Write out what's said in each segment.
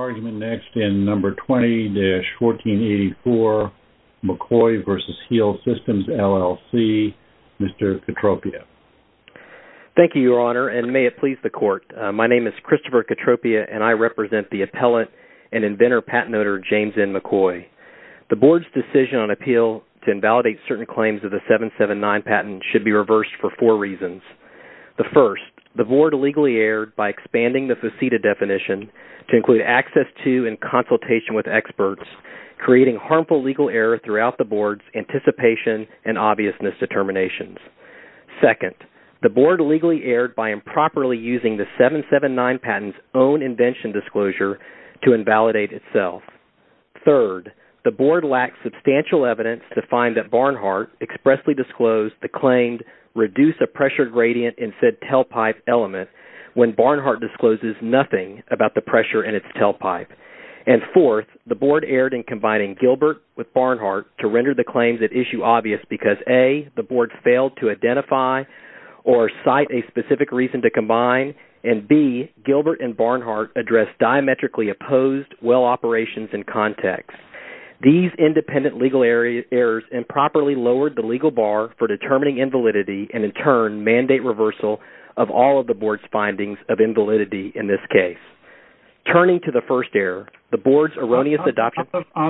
20-1484 McCoy v. HEAL Systems, LLC 20-1484 McCoy v. HEAL Systems, LLC 20-1484 McCoy v. HEAL Systems, LLC On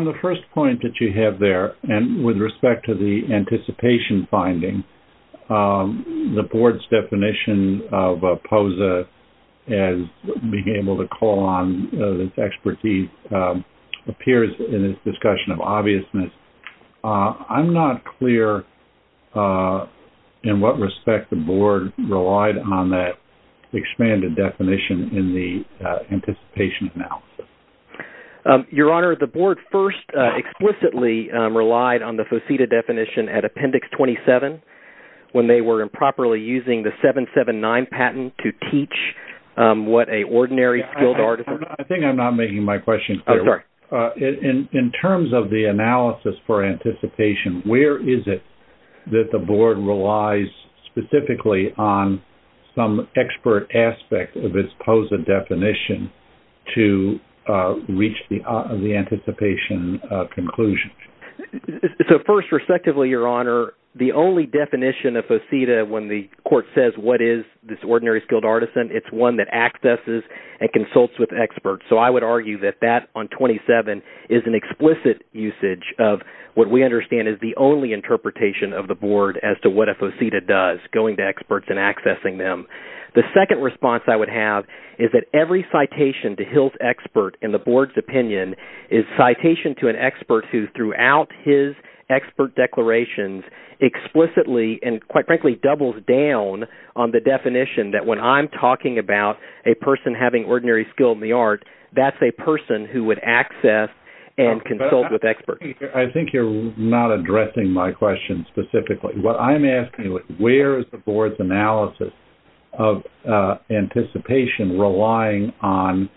the first point that you have there, and with respect to the anticipation finding, the Board's definition of POSA as being able to call on this expertise appears in this discussion of obviousness. I'm not clear in what respect the Board relied on that expanded definition in the anticipation analysis. Your Honor, the Board first explicitly relied on the FOSITA definition at Appendix 27 when they were improperly using the 779 patent to teach what an ordinary skilled artist... I think I'm not making my question clear. Oh, sorry. In terms of the analysis for anticipation, where is it that the Board relies specifically on some expert aspect of its POSA definition to reach the anticipation conclusion? So first, respectively, Your Honor, the only definition of POSITA when the Court says what is this ordinary skilled artisan, it's one that accesses and consults with experts. So I would argue that that on 27 is an explicit usage of what we understand is the only interpretation of the Board as to what a POSITA does, going to experts and accessing them. The second response I would have is that every citation to Hill's expert in the Board's opinion is citation to an expert who throughout his expert declarations explicitly and, quite frankly, doubles down on the definition that when I'm talking about a person having ordinary skill in the art, that's a person who would access and consult with experts. I think you're not addressing my question specifically. What I'm asking is where is the Board's analysis of anticipation relying on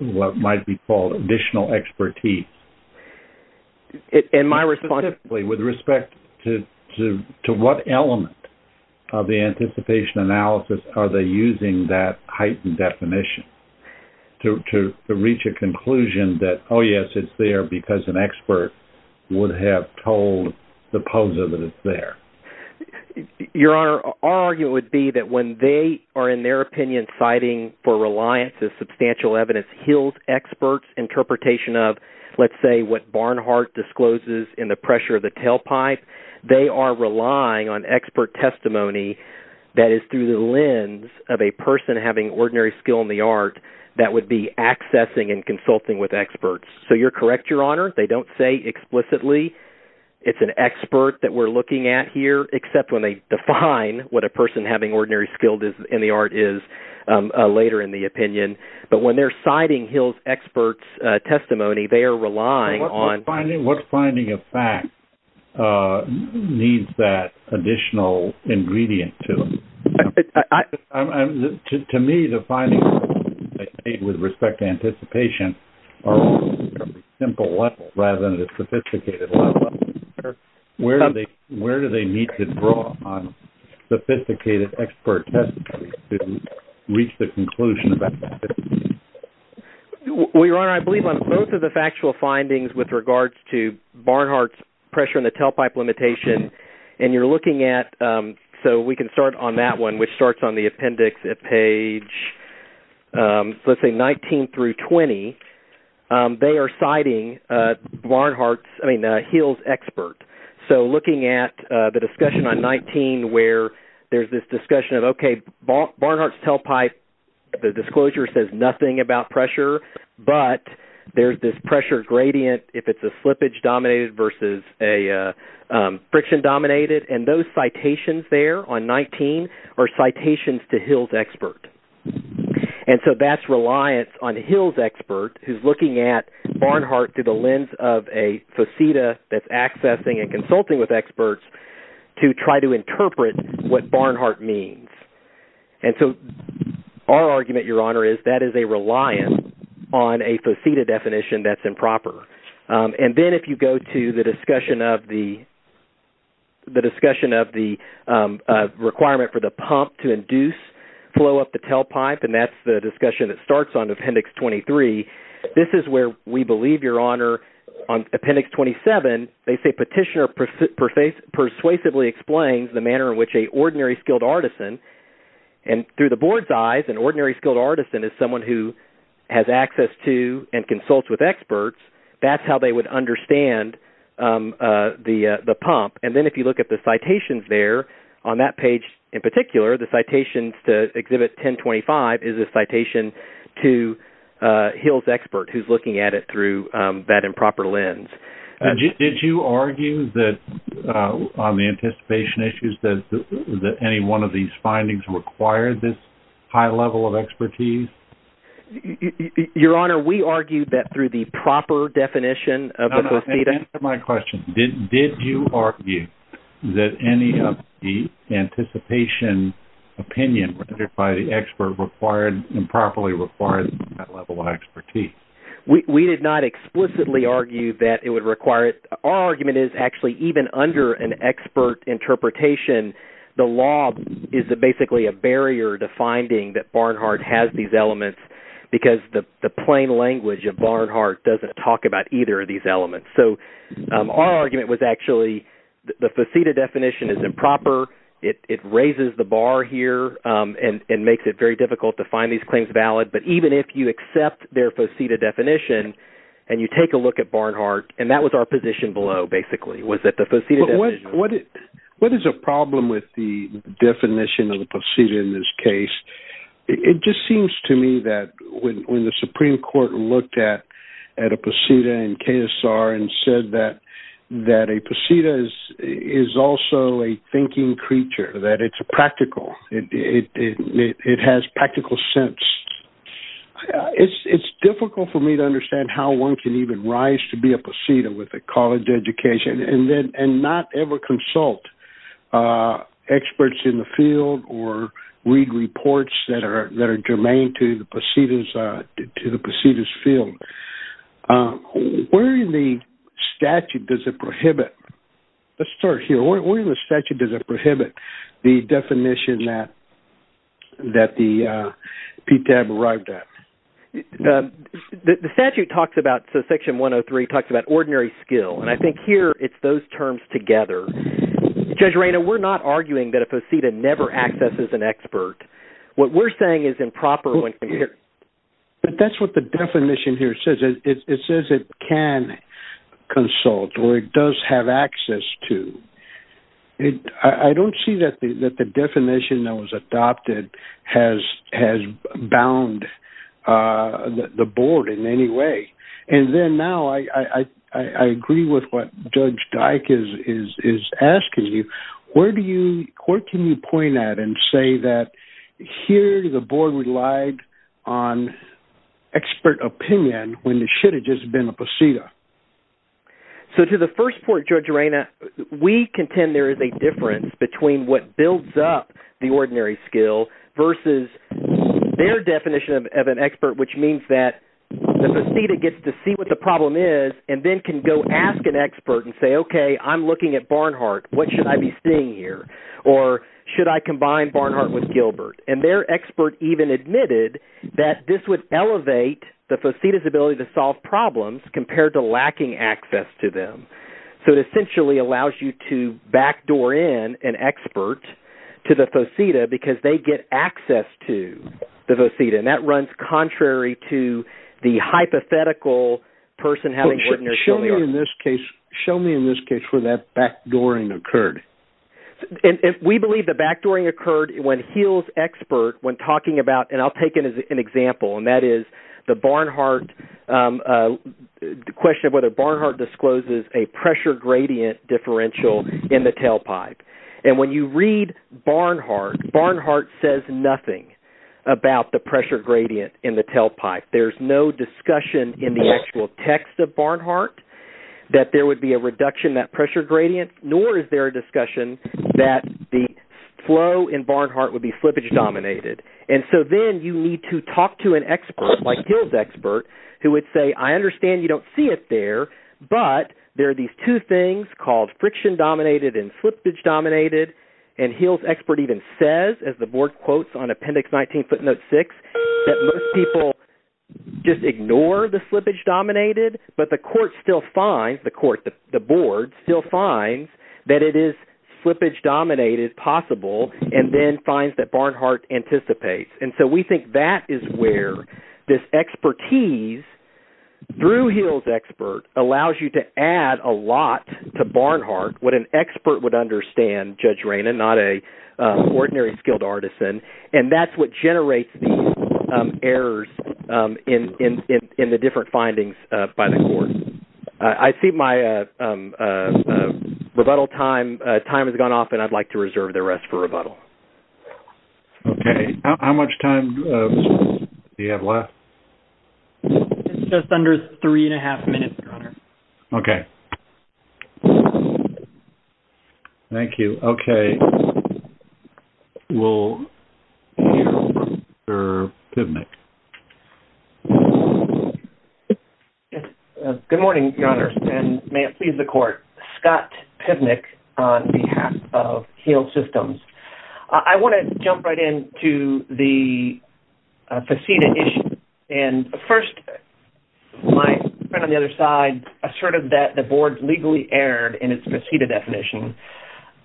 what might be called additional expertise? Specifically, with respect to what element of the anticipation analysis are they using that heightened definition to reach a conclusion that, oh, yes, it's there because an expert would have told the POSA that it's there? Your Honor, our argument would be that when they are, in their opinion, citing for reliance of substantial evidence Hill's expert's interpretation of, let's say, what Barnhart discloses in The Pressure of the Tailpipe, they are relying on expert testimony that is through the lens of a person having ordinary skill in the art that would be accessing and consulting with experts. So you're correct, Your Honor. They don't say explicitly it's an expert that we're looking at here, except when they define what a person having ordinary skill in the art is later in the opinion. But when they're citing Hill's expert's testimony, they are relying on… To me, the findings they made with respect to anticipation are on a simple level rather than a sophisticated level. Where do they need to draw on sophisticated expert testimony to reach the conclusion of anticipation? Well, Your Honor, I believe on both of the factual findings with regards to Barnhart's Pressure on the Tailpipe limitation, and you're looking at… So we can start on that one, which starts on the appendix at page, let's say, 19 through 20. They are citing Barnhart's…I mean, Hill's expert. So looking at the discussion on 19 where there's this discussion of, okay, Barnhart's Tailpipe, the disclosure says nothing about pressure, but there's this pressure gradient if it's a slippage-dominated versus a friction-dominated. And those citations there on 19 are citations to Hill's expert. And so that's reliance on Hill's expert who's looking at Barnhart through the lens of a faceta that's accessing and consulting with experts to try to interpret what Barnhart means. And so our argument, Your Honor, is that is a reliance on a faceta definition that's improper. And then if you go to the discussion of the requirement for the pump to induce flow up the tailpipe, and that's the discussion that starts on appendix 23. This is where we believe, Your Honor, on appendix 27, they say Petitioner persuasively explains the manner in which an ordinary skilled artisan… …has access to and consults with experts, that's how they would understand the pump. And then if you look at the citations there on that page in particular, the citations to exhibit 1025 is a citation to Hill's expert who's looking at it through that improper lens. Did you argue that on the anticipation issues that any one of these findings required this high level of expertise? Your Honor, we argued that through the proper definition of a faceta… No, no, answer my question. Did you argue that any of the anticipation opinion by the expert required improperly required that level of expertise? We did not explicitly argue that it would require it. Our argument is actually even under an expert interpretation, the law is basically a barrier to finding that Barnhart has these elements… …because the plain language of Barnhart doesn't talk about either of these elements. So our argument was actually the faceta definition is improper. It raises the bar here and makes it very difficult to find these claims valid. But even if you accept their faceta definition and you take a look at Barnhart, and that was our position below basically, was that the faceta definition… What is a problem with the definition of the faceta in this case? It just seems to me that when the Supreme Court looked at a faceta in KSR and said that a faceta is also a thinking creature, that it's practical, it has practical sense. It's difficult for me to understand how one can even rise to be a faceta with a college education and not ever consult experts in the field or read reports that are germane to the faceta's field. Where in the statute does it prohibit – let's start here. Where in the statute does it prohibit the definition that the PTAB arrived at? The statute talks about – so section 103 talks about ordinary skill, and I think here it's those terms together. Judge Reina, we're not arguing that a faceta never accesses an expert. What we're saying is improper when… But that's what the definition here says. It says it can consult or it does have access to. I don't see that the definition that was adopted has bound the board in any way. And then now I agree with what Judge Dyck is asking you. Where do you – where can you point at and say that here the board relied on expert opinion when there should have just been a faceta? So to the first point, Judge Reina, we contend there is a difference between what builds up the ordinary skill versus their definition of an expert, which means that the faceta gets to see what the problem is and then can go ask an expert and say, okay, I'm looking at Barnhart. What should I be seeing here? Or should I combine Barnhart with Gilbert? And their expert even admitted that this would elevate the faceta's ability to solve problems compared to lacking access to them. So it essentially allows you to backdoor in an expert to the faceta because they get access to the faceta, and that runs contrary to the hypothetical person having ordinary skill. Show me in this case where that backdooring occurred. We believe the backdooring occurred when Heal's expert, when talking about – and I'll take it as an example, and that is the Barnhart – the question of whether Barnhart discloses a pressure gradient differential in the tailpipe. And when you read Barnhart, Barnhart says nothing about the pressure gradient in the tailpipe. There's no discussion in the actual text of Barnhart that there would be a reduction in that pressure gradient, nor is there a discussion that the flow in Barnhart would be slippage-dominated. And so then you need to talk to an expert like Heal's expert who would say, I understand you don't see it there, but there are these two things called friction-dominated and slippage-dominated. And Heal's expert even says, as the board quotes on Appendix 19, footnote 6, that most people just ignore the slippage-dominated, but the court still finds – the court, the board – still finds that it is slippage-dominated possible and then finds that Barnhart anticipates. And so we think that is where this expertise through Heal's expert allows you to add a lot to Barnhart, what an expert would understand, Judge Raina, not an ordinary skilled artisan. And that's what generates these errors in the different findings by the court. I see my rebuttal time has gone off, and I'd like to reserve the rest for rebuttal. Okay. How much time do you have left? Just under three and a half minutes, Your Honor. Okay. Thank you. Okay. We'll hear from Mr. Pivnick. Good morning, Your Honor, and may it please the court. Scott Pivnick on behalf of Heal Systems. I want to jump right into the faceta issue. And first, my friend on the other side asserted that the board legally erred in its faceta definition.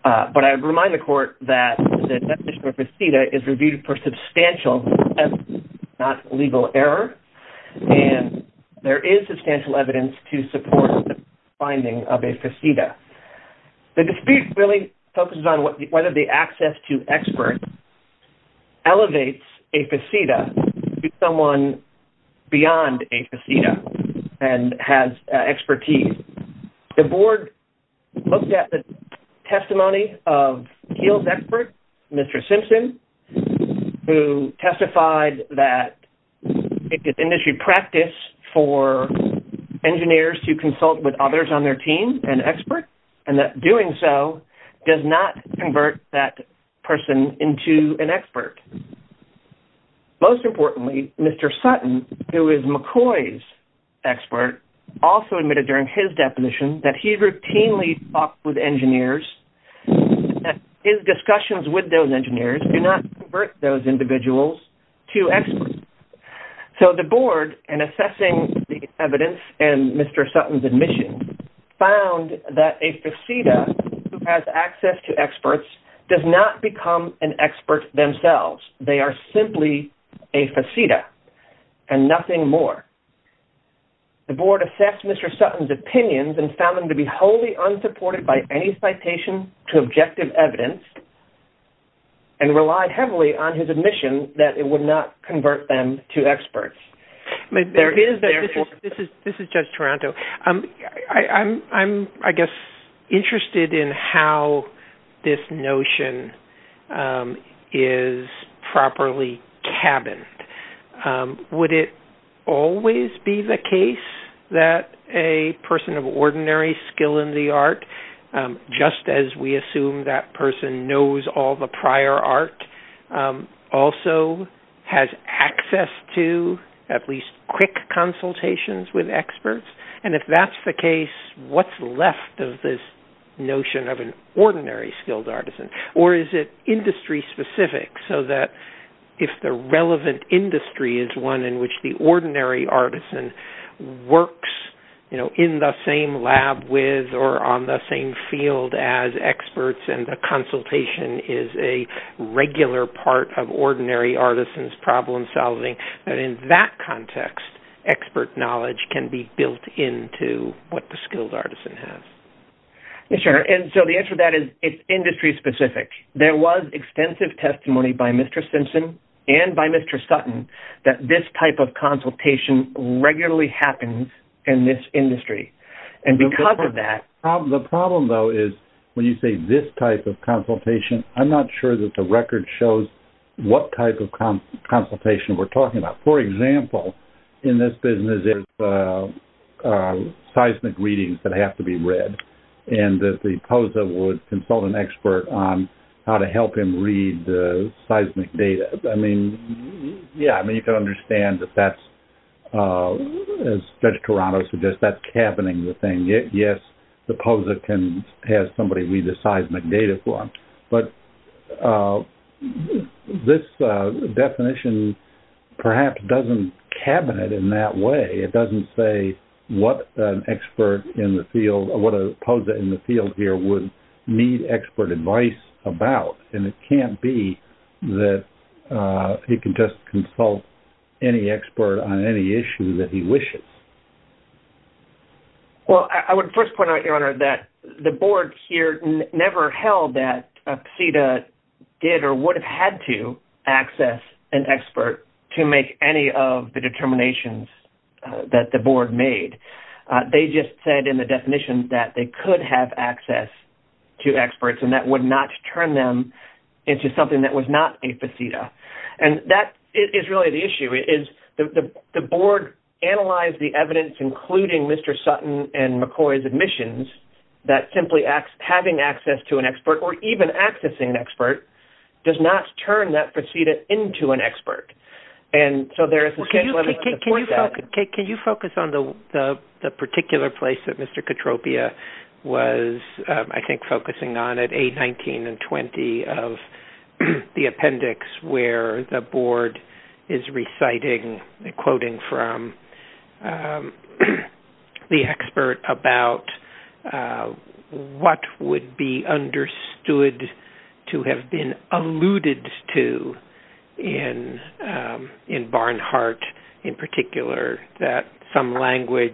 But I remind the court that the definition of a faceta is reviewed for substantial evidence, not legal error. And there is substantial evidence to support the finding of a faceta. The dispute really focuses on whether the access to experts elevates a faceta to someone beyond a faceta and has expertise. The board looked at the testimony of Heal's expert, Mr. Simpson, who testified that it is industry practice for engineers to consult with others on their team and experts, and that doing so does not convert that person into an expert. Most importantly, Mr. Sutton, who is McCoy's expert, also admitted during his deposition that he routinely talks with engineers and that his discussions with those engineers do not convert those individuals to experts. So the board, in assessing the evidence and Mr. Sutton's admission, found that a faceta who has access to experts does not become an expert themselves. They are simply a faceta and nothing more. The board assessed Mr. Sutton's opinions and found them to be wholly unsupported by any citation to objective evidence and relied heavily on his admission that it would not convert them to experts. This is Judge Taranto. I'm, I guess, interested in how this notion is properly cabined. Would it always be the case that a person of ordinary skill in the art, just as we assume that person knows all the prior art, also has access to at least quick consultations with experts? And if that's the case, what's left of this notion of an ordinary skilled artisan? Or is it industry specific so that if the relevant industry is one in which the ordinary artisan works, you know, in the same lab with or on the same field as experts and the consultation is a regular part of ordinary artisan's problem solving, that in that context expert knowledge can be built into what the skilled artisan has? Yes, sir. And so the answer to that is it's industry specific. There was extensive testimony by Mr. Simpson and by Mr. Sutton that this type of consultation regularly happens in this industry. And because of that... The problem, though, is when you say this type of consultation, I'm not sure that the record shows what type of consultation we're talking about. For example, in this business there's seismic readings that have to be read. And the POSA would consult an expert on how to help him read the seismic data. I mean, yeah, you can understand that that's, as Judge Toronto suggests, that's cabining the thing. Yes, the POSA can have somebody read the seismic data for him. But this definition perhaps doesn't cabinet in that way. It doesn't say what an expert in the field or what a POSA in the field here would need expert advice about. And it can't be that he can just consult any expert on any issue that he wishes. Well, I would first point out, Your Honor, that the board here never held that PSEDA did or would have had to access an expert to make any of the determinations that the board made. They just said in the definition that they could have access to experts, and that would not turn them into something that was not a PSEDA. And that is really the issue. The board analyzed the evidence, including Mr. Sutton and McCoy's admissions, that simply having access to an expert or even accessing an expert does not turn that PSEDA into an expert. Can you focus on the particular place that Mr. Katropia was, I think, focusing on at 8, 19, and 20 of the appendix where the board is reciting, quoting from the expert about what would be understood to have been alluded to in Barnhart, in particular, that some language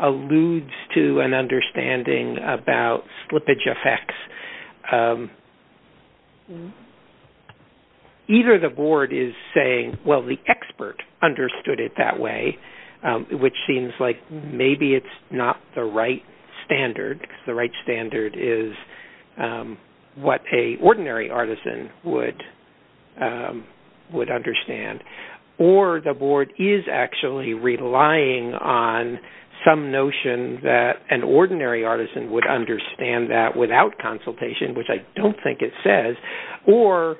alludes to an understanding about slippage effects. Either the board is saying, well, the expert understood it that way, which seems like maybe it's not the right standard, because the right standard is what an ordinary artisan would understand, or the board is actually relying on some notion that an ordinary artisan would understand that without consultation, which I don't think it says. Or,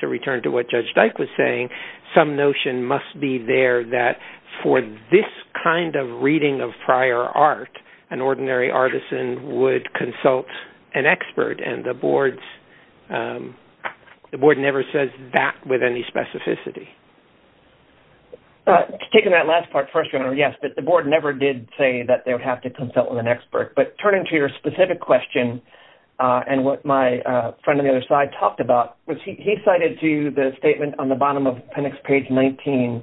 to return to what Judge Dyke was saying, some notion must be there that for this kind of reading of prior art, an ordinary artisan would consult an expert, and the board never says that with any specificity. To take on that last part, first, yes, but the board never did say that they would have to consult with an expert. But turning to your specific question, and what my friend on the other side talked about, was he cited to you the statement on the bottom of appendix page 19,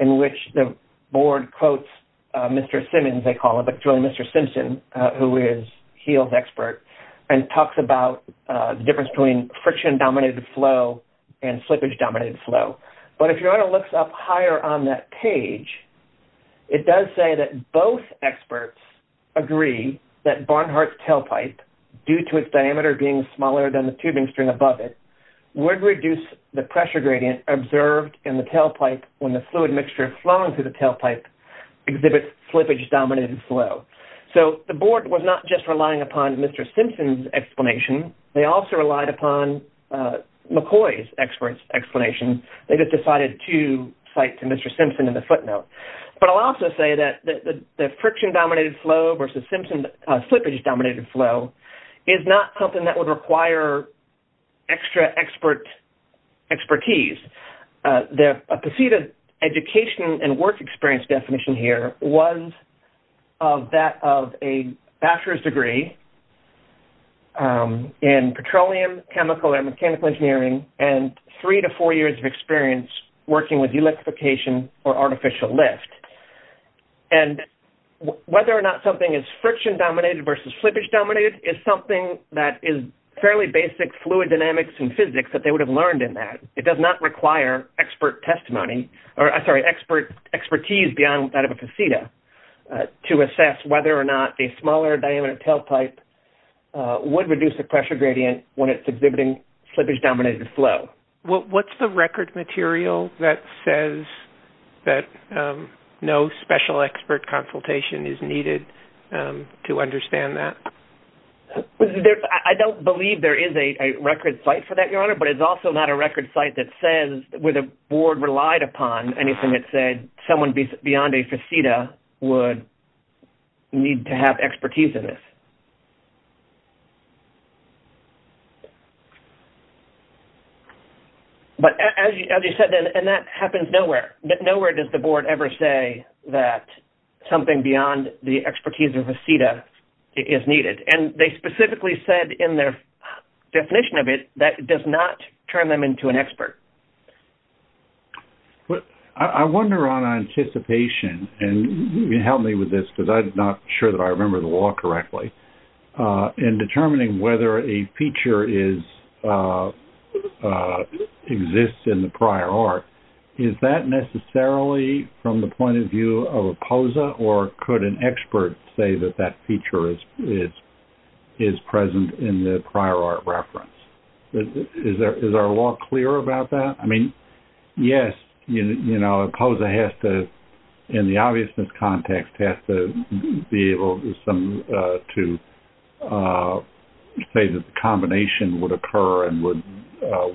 in which the board quotes Mr. Simmons, they call him, but truly Mr. Simpson, who is Heal's expert, and talks about the difference between friction-dominated flow and slippage-dominated flow. But if you want to look up higher on that page, it does say that both experts agree that Barnhart's tailpipe, due to its diameter being smaller than the tubing string above it, would reduce the pressure gradient observed in the tailpipe when the fluid mixture flowing through the tailpipe exhibits slippage-dominated flow. So the board was not just relying upon Mr. Simpson's explanation, they also relied upon McCoy's explanation. They just decided to cite to Mr. Simpson in the footnote. But I'll also say that the friction-dominated flow versus slippage-dominated flow is not something that would require extra expertise. A preceded education and work experience definition here was that of a bachelor's degree in petroleum chemical and mechanical engineering, and three to four years of experience working with electrification or artificial lift. And whether or not something is friction-dominated versus slippage-dominated is something that is fairly basic fluid dynamics and physics that they would have learned in that. It does not require expertise beyond that of a faceta to assess whether or not a smaller diameter tailpipe would reduce the pressure gradient when it's exhibiting slippage-dominated flow. What's the record material that says that no special expert consultation is needed to understand that? I don't believe there is a record site for that, Your Honor, but it's also not a record site that says where the board relied upon anything that said someone beyond a faceta would need to have expertise in this. But as you said, and that happens nowhere. Nowhere does the board ever say that something beyond the expertise of a faceta is needed. And they specifically said in their definition of it that it does not turn them into an expert. I wonder on anticipation, and help me with this because I'm not sure that I remember the law correctly, in determining whether a feature exists in the prior art, is that necessarily from the point of view of a POSA, or could an expert say that that feature is present in the prior art reference? Is our law clear about that? I mean, yes, you know, a POSA has to, in the obviousness context, has to be able to say that the combination would occur and would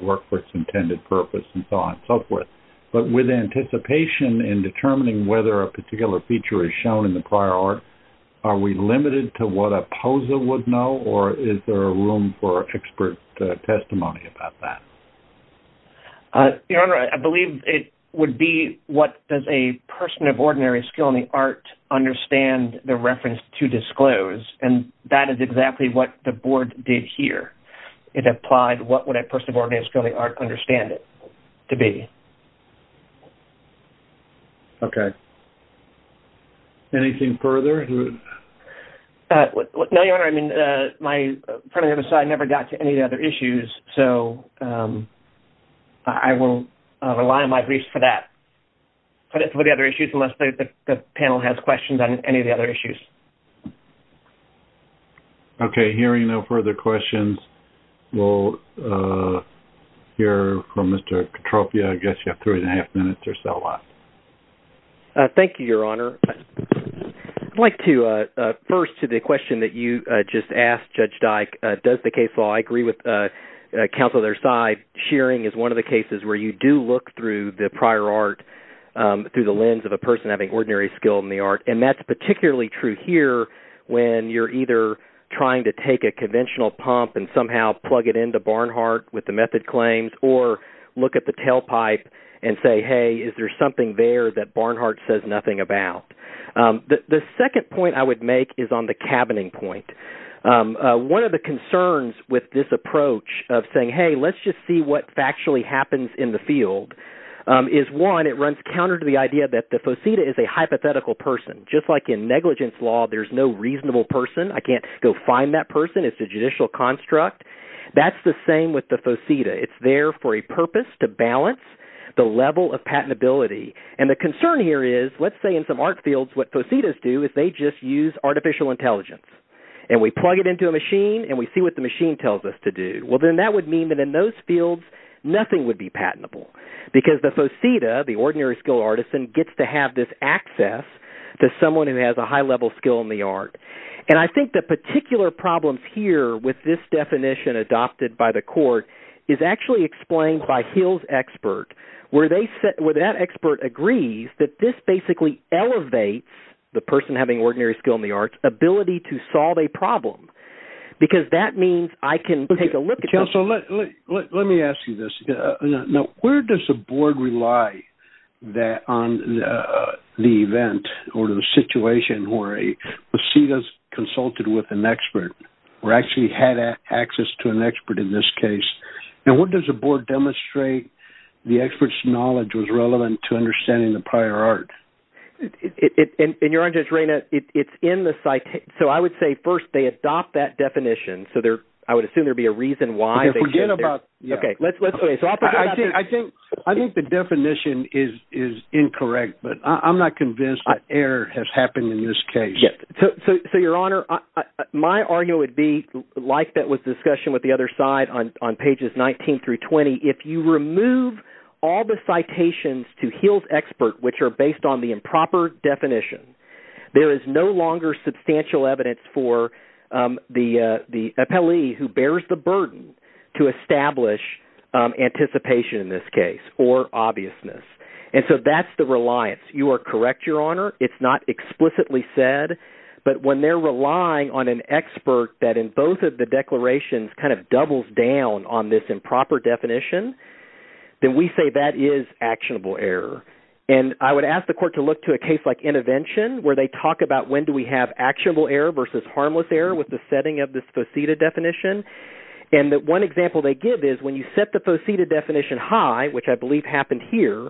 work for its intended purpose, and so on and so forth. But with anticipation in determining whether a particular feature is shown in the prior art, are we limited to what a POSA would know, or is there room for expert testimony about that? Your Honor, I believe it would be what does a person of ordinary skill in the art understand the reference to disclose, and that is exactly what the board did here. It applied what would a person of ordinary skill in the art understand it to be. Okay. Anything further? No, Your Honor, I mean, my friend on the other side never got to any of the other issues, so I will rely on my briefs for that, for the other issues, unless the panel has questions on any of the other issues. Okay. Hearing no further questions, we'll hear from Mr. Katropia. I guess you have three and a half minutes or so left. Thank you, Your Honor. I'd like to, first, to the question that you just asked, Judge Dyke, does the case law agree with counsel of their side, shearing is one of the cases where you do look through the prior art, through the lens of a person having ordinary skill in the art, and that's particularly true here when you're either trying to take a conventional pump and somehow plug it into Barnhart with the method claims, or look at the tailpipe and say, hey, is there something there that Barnhart says nothing about? The second point I would make is on the cabining point. One of the concerns with this approach of saying, hey, let's just see what factually happens in the field, is, one, it runs counter to the idea that the fauceta is a hypothetical person. Just like in negligence law, there's no reasonable person. I can't go find that person. It's a judicial construct. That's the same with the fauceta. It's there for a purpose to balance the level of patentability. And the concern here is, let's say in some art fields, what faucetas do is they just use artificial intelligence. And we plug it into a machine, and we see what the machine tells us to do. Well, then that would mean that in those fields, nothing would be patentable because the fauceta, the ordinary skill artisan, gets to have this access to someone who has a high-level skill in the art. And I think the particular problems here with this definition adopted by the court is actually explained by Hill's expert, where that expert agrees that this basically elevates the person having ordinary skill in the arts' ability to solve a problem because that means I can take a look at this. Let me ask you this. Now, where does the board rely on the event or the situation where a fauceta is consulted with an expert or actually had access to an expert in this case? And what does the board demonstrate the expert's knowledge was relevant to understanding the prior art? And Your Honor, Judge Reina, it's in the – so I would say first they adopt that definition. So I would assume there would be a reason why they did that. Okay, let's – I think the definition is incorrect, but I'm not convinced that error has happened in this case. So Your Honor, my argument would be like that was discussed with the other side on pages 19 through 20. If you remove all the citations to Hill's expert which are based on the improper definition, there is no longer substantial evidence for the appellee who bears the burden to establish anticipation in this case or obviousness. And so that's the reliance. You are correct, Your Honor. It's not explicitly said, but when they're relying on an expert that in both of the declarations kind of doubles down on this improper definition, then we say that is actionable error. And I would ask the court to look to a case like intervention where they talk about when do we have actionable error versus harmless error with the setting of this fauceta definition. And one example they give is when you set the fauceta definition high, which I believe happened here,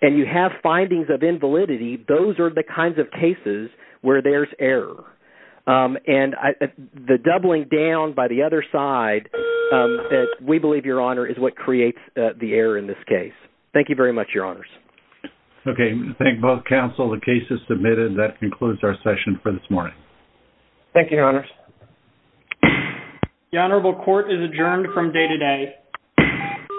and you have findings of invalidity, those are the kinds of cases where there's error. And the doubling down by the other side that we believe, Your Honor, is what creates the error in this case. Thank you very much, Your Honors. Okay, thank both counsel. The case is submitted. Thank you, Your Honors. The honorable court is adjourned from day to day.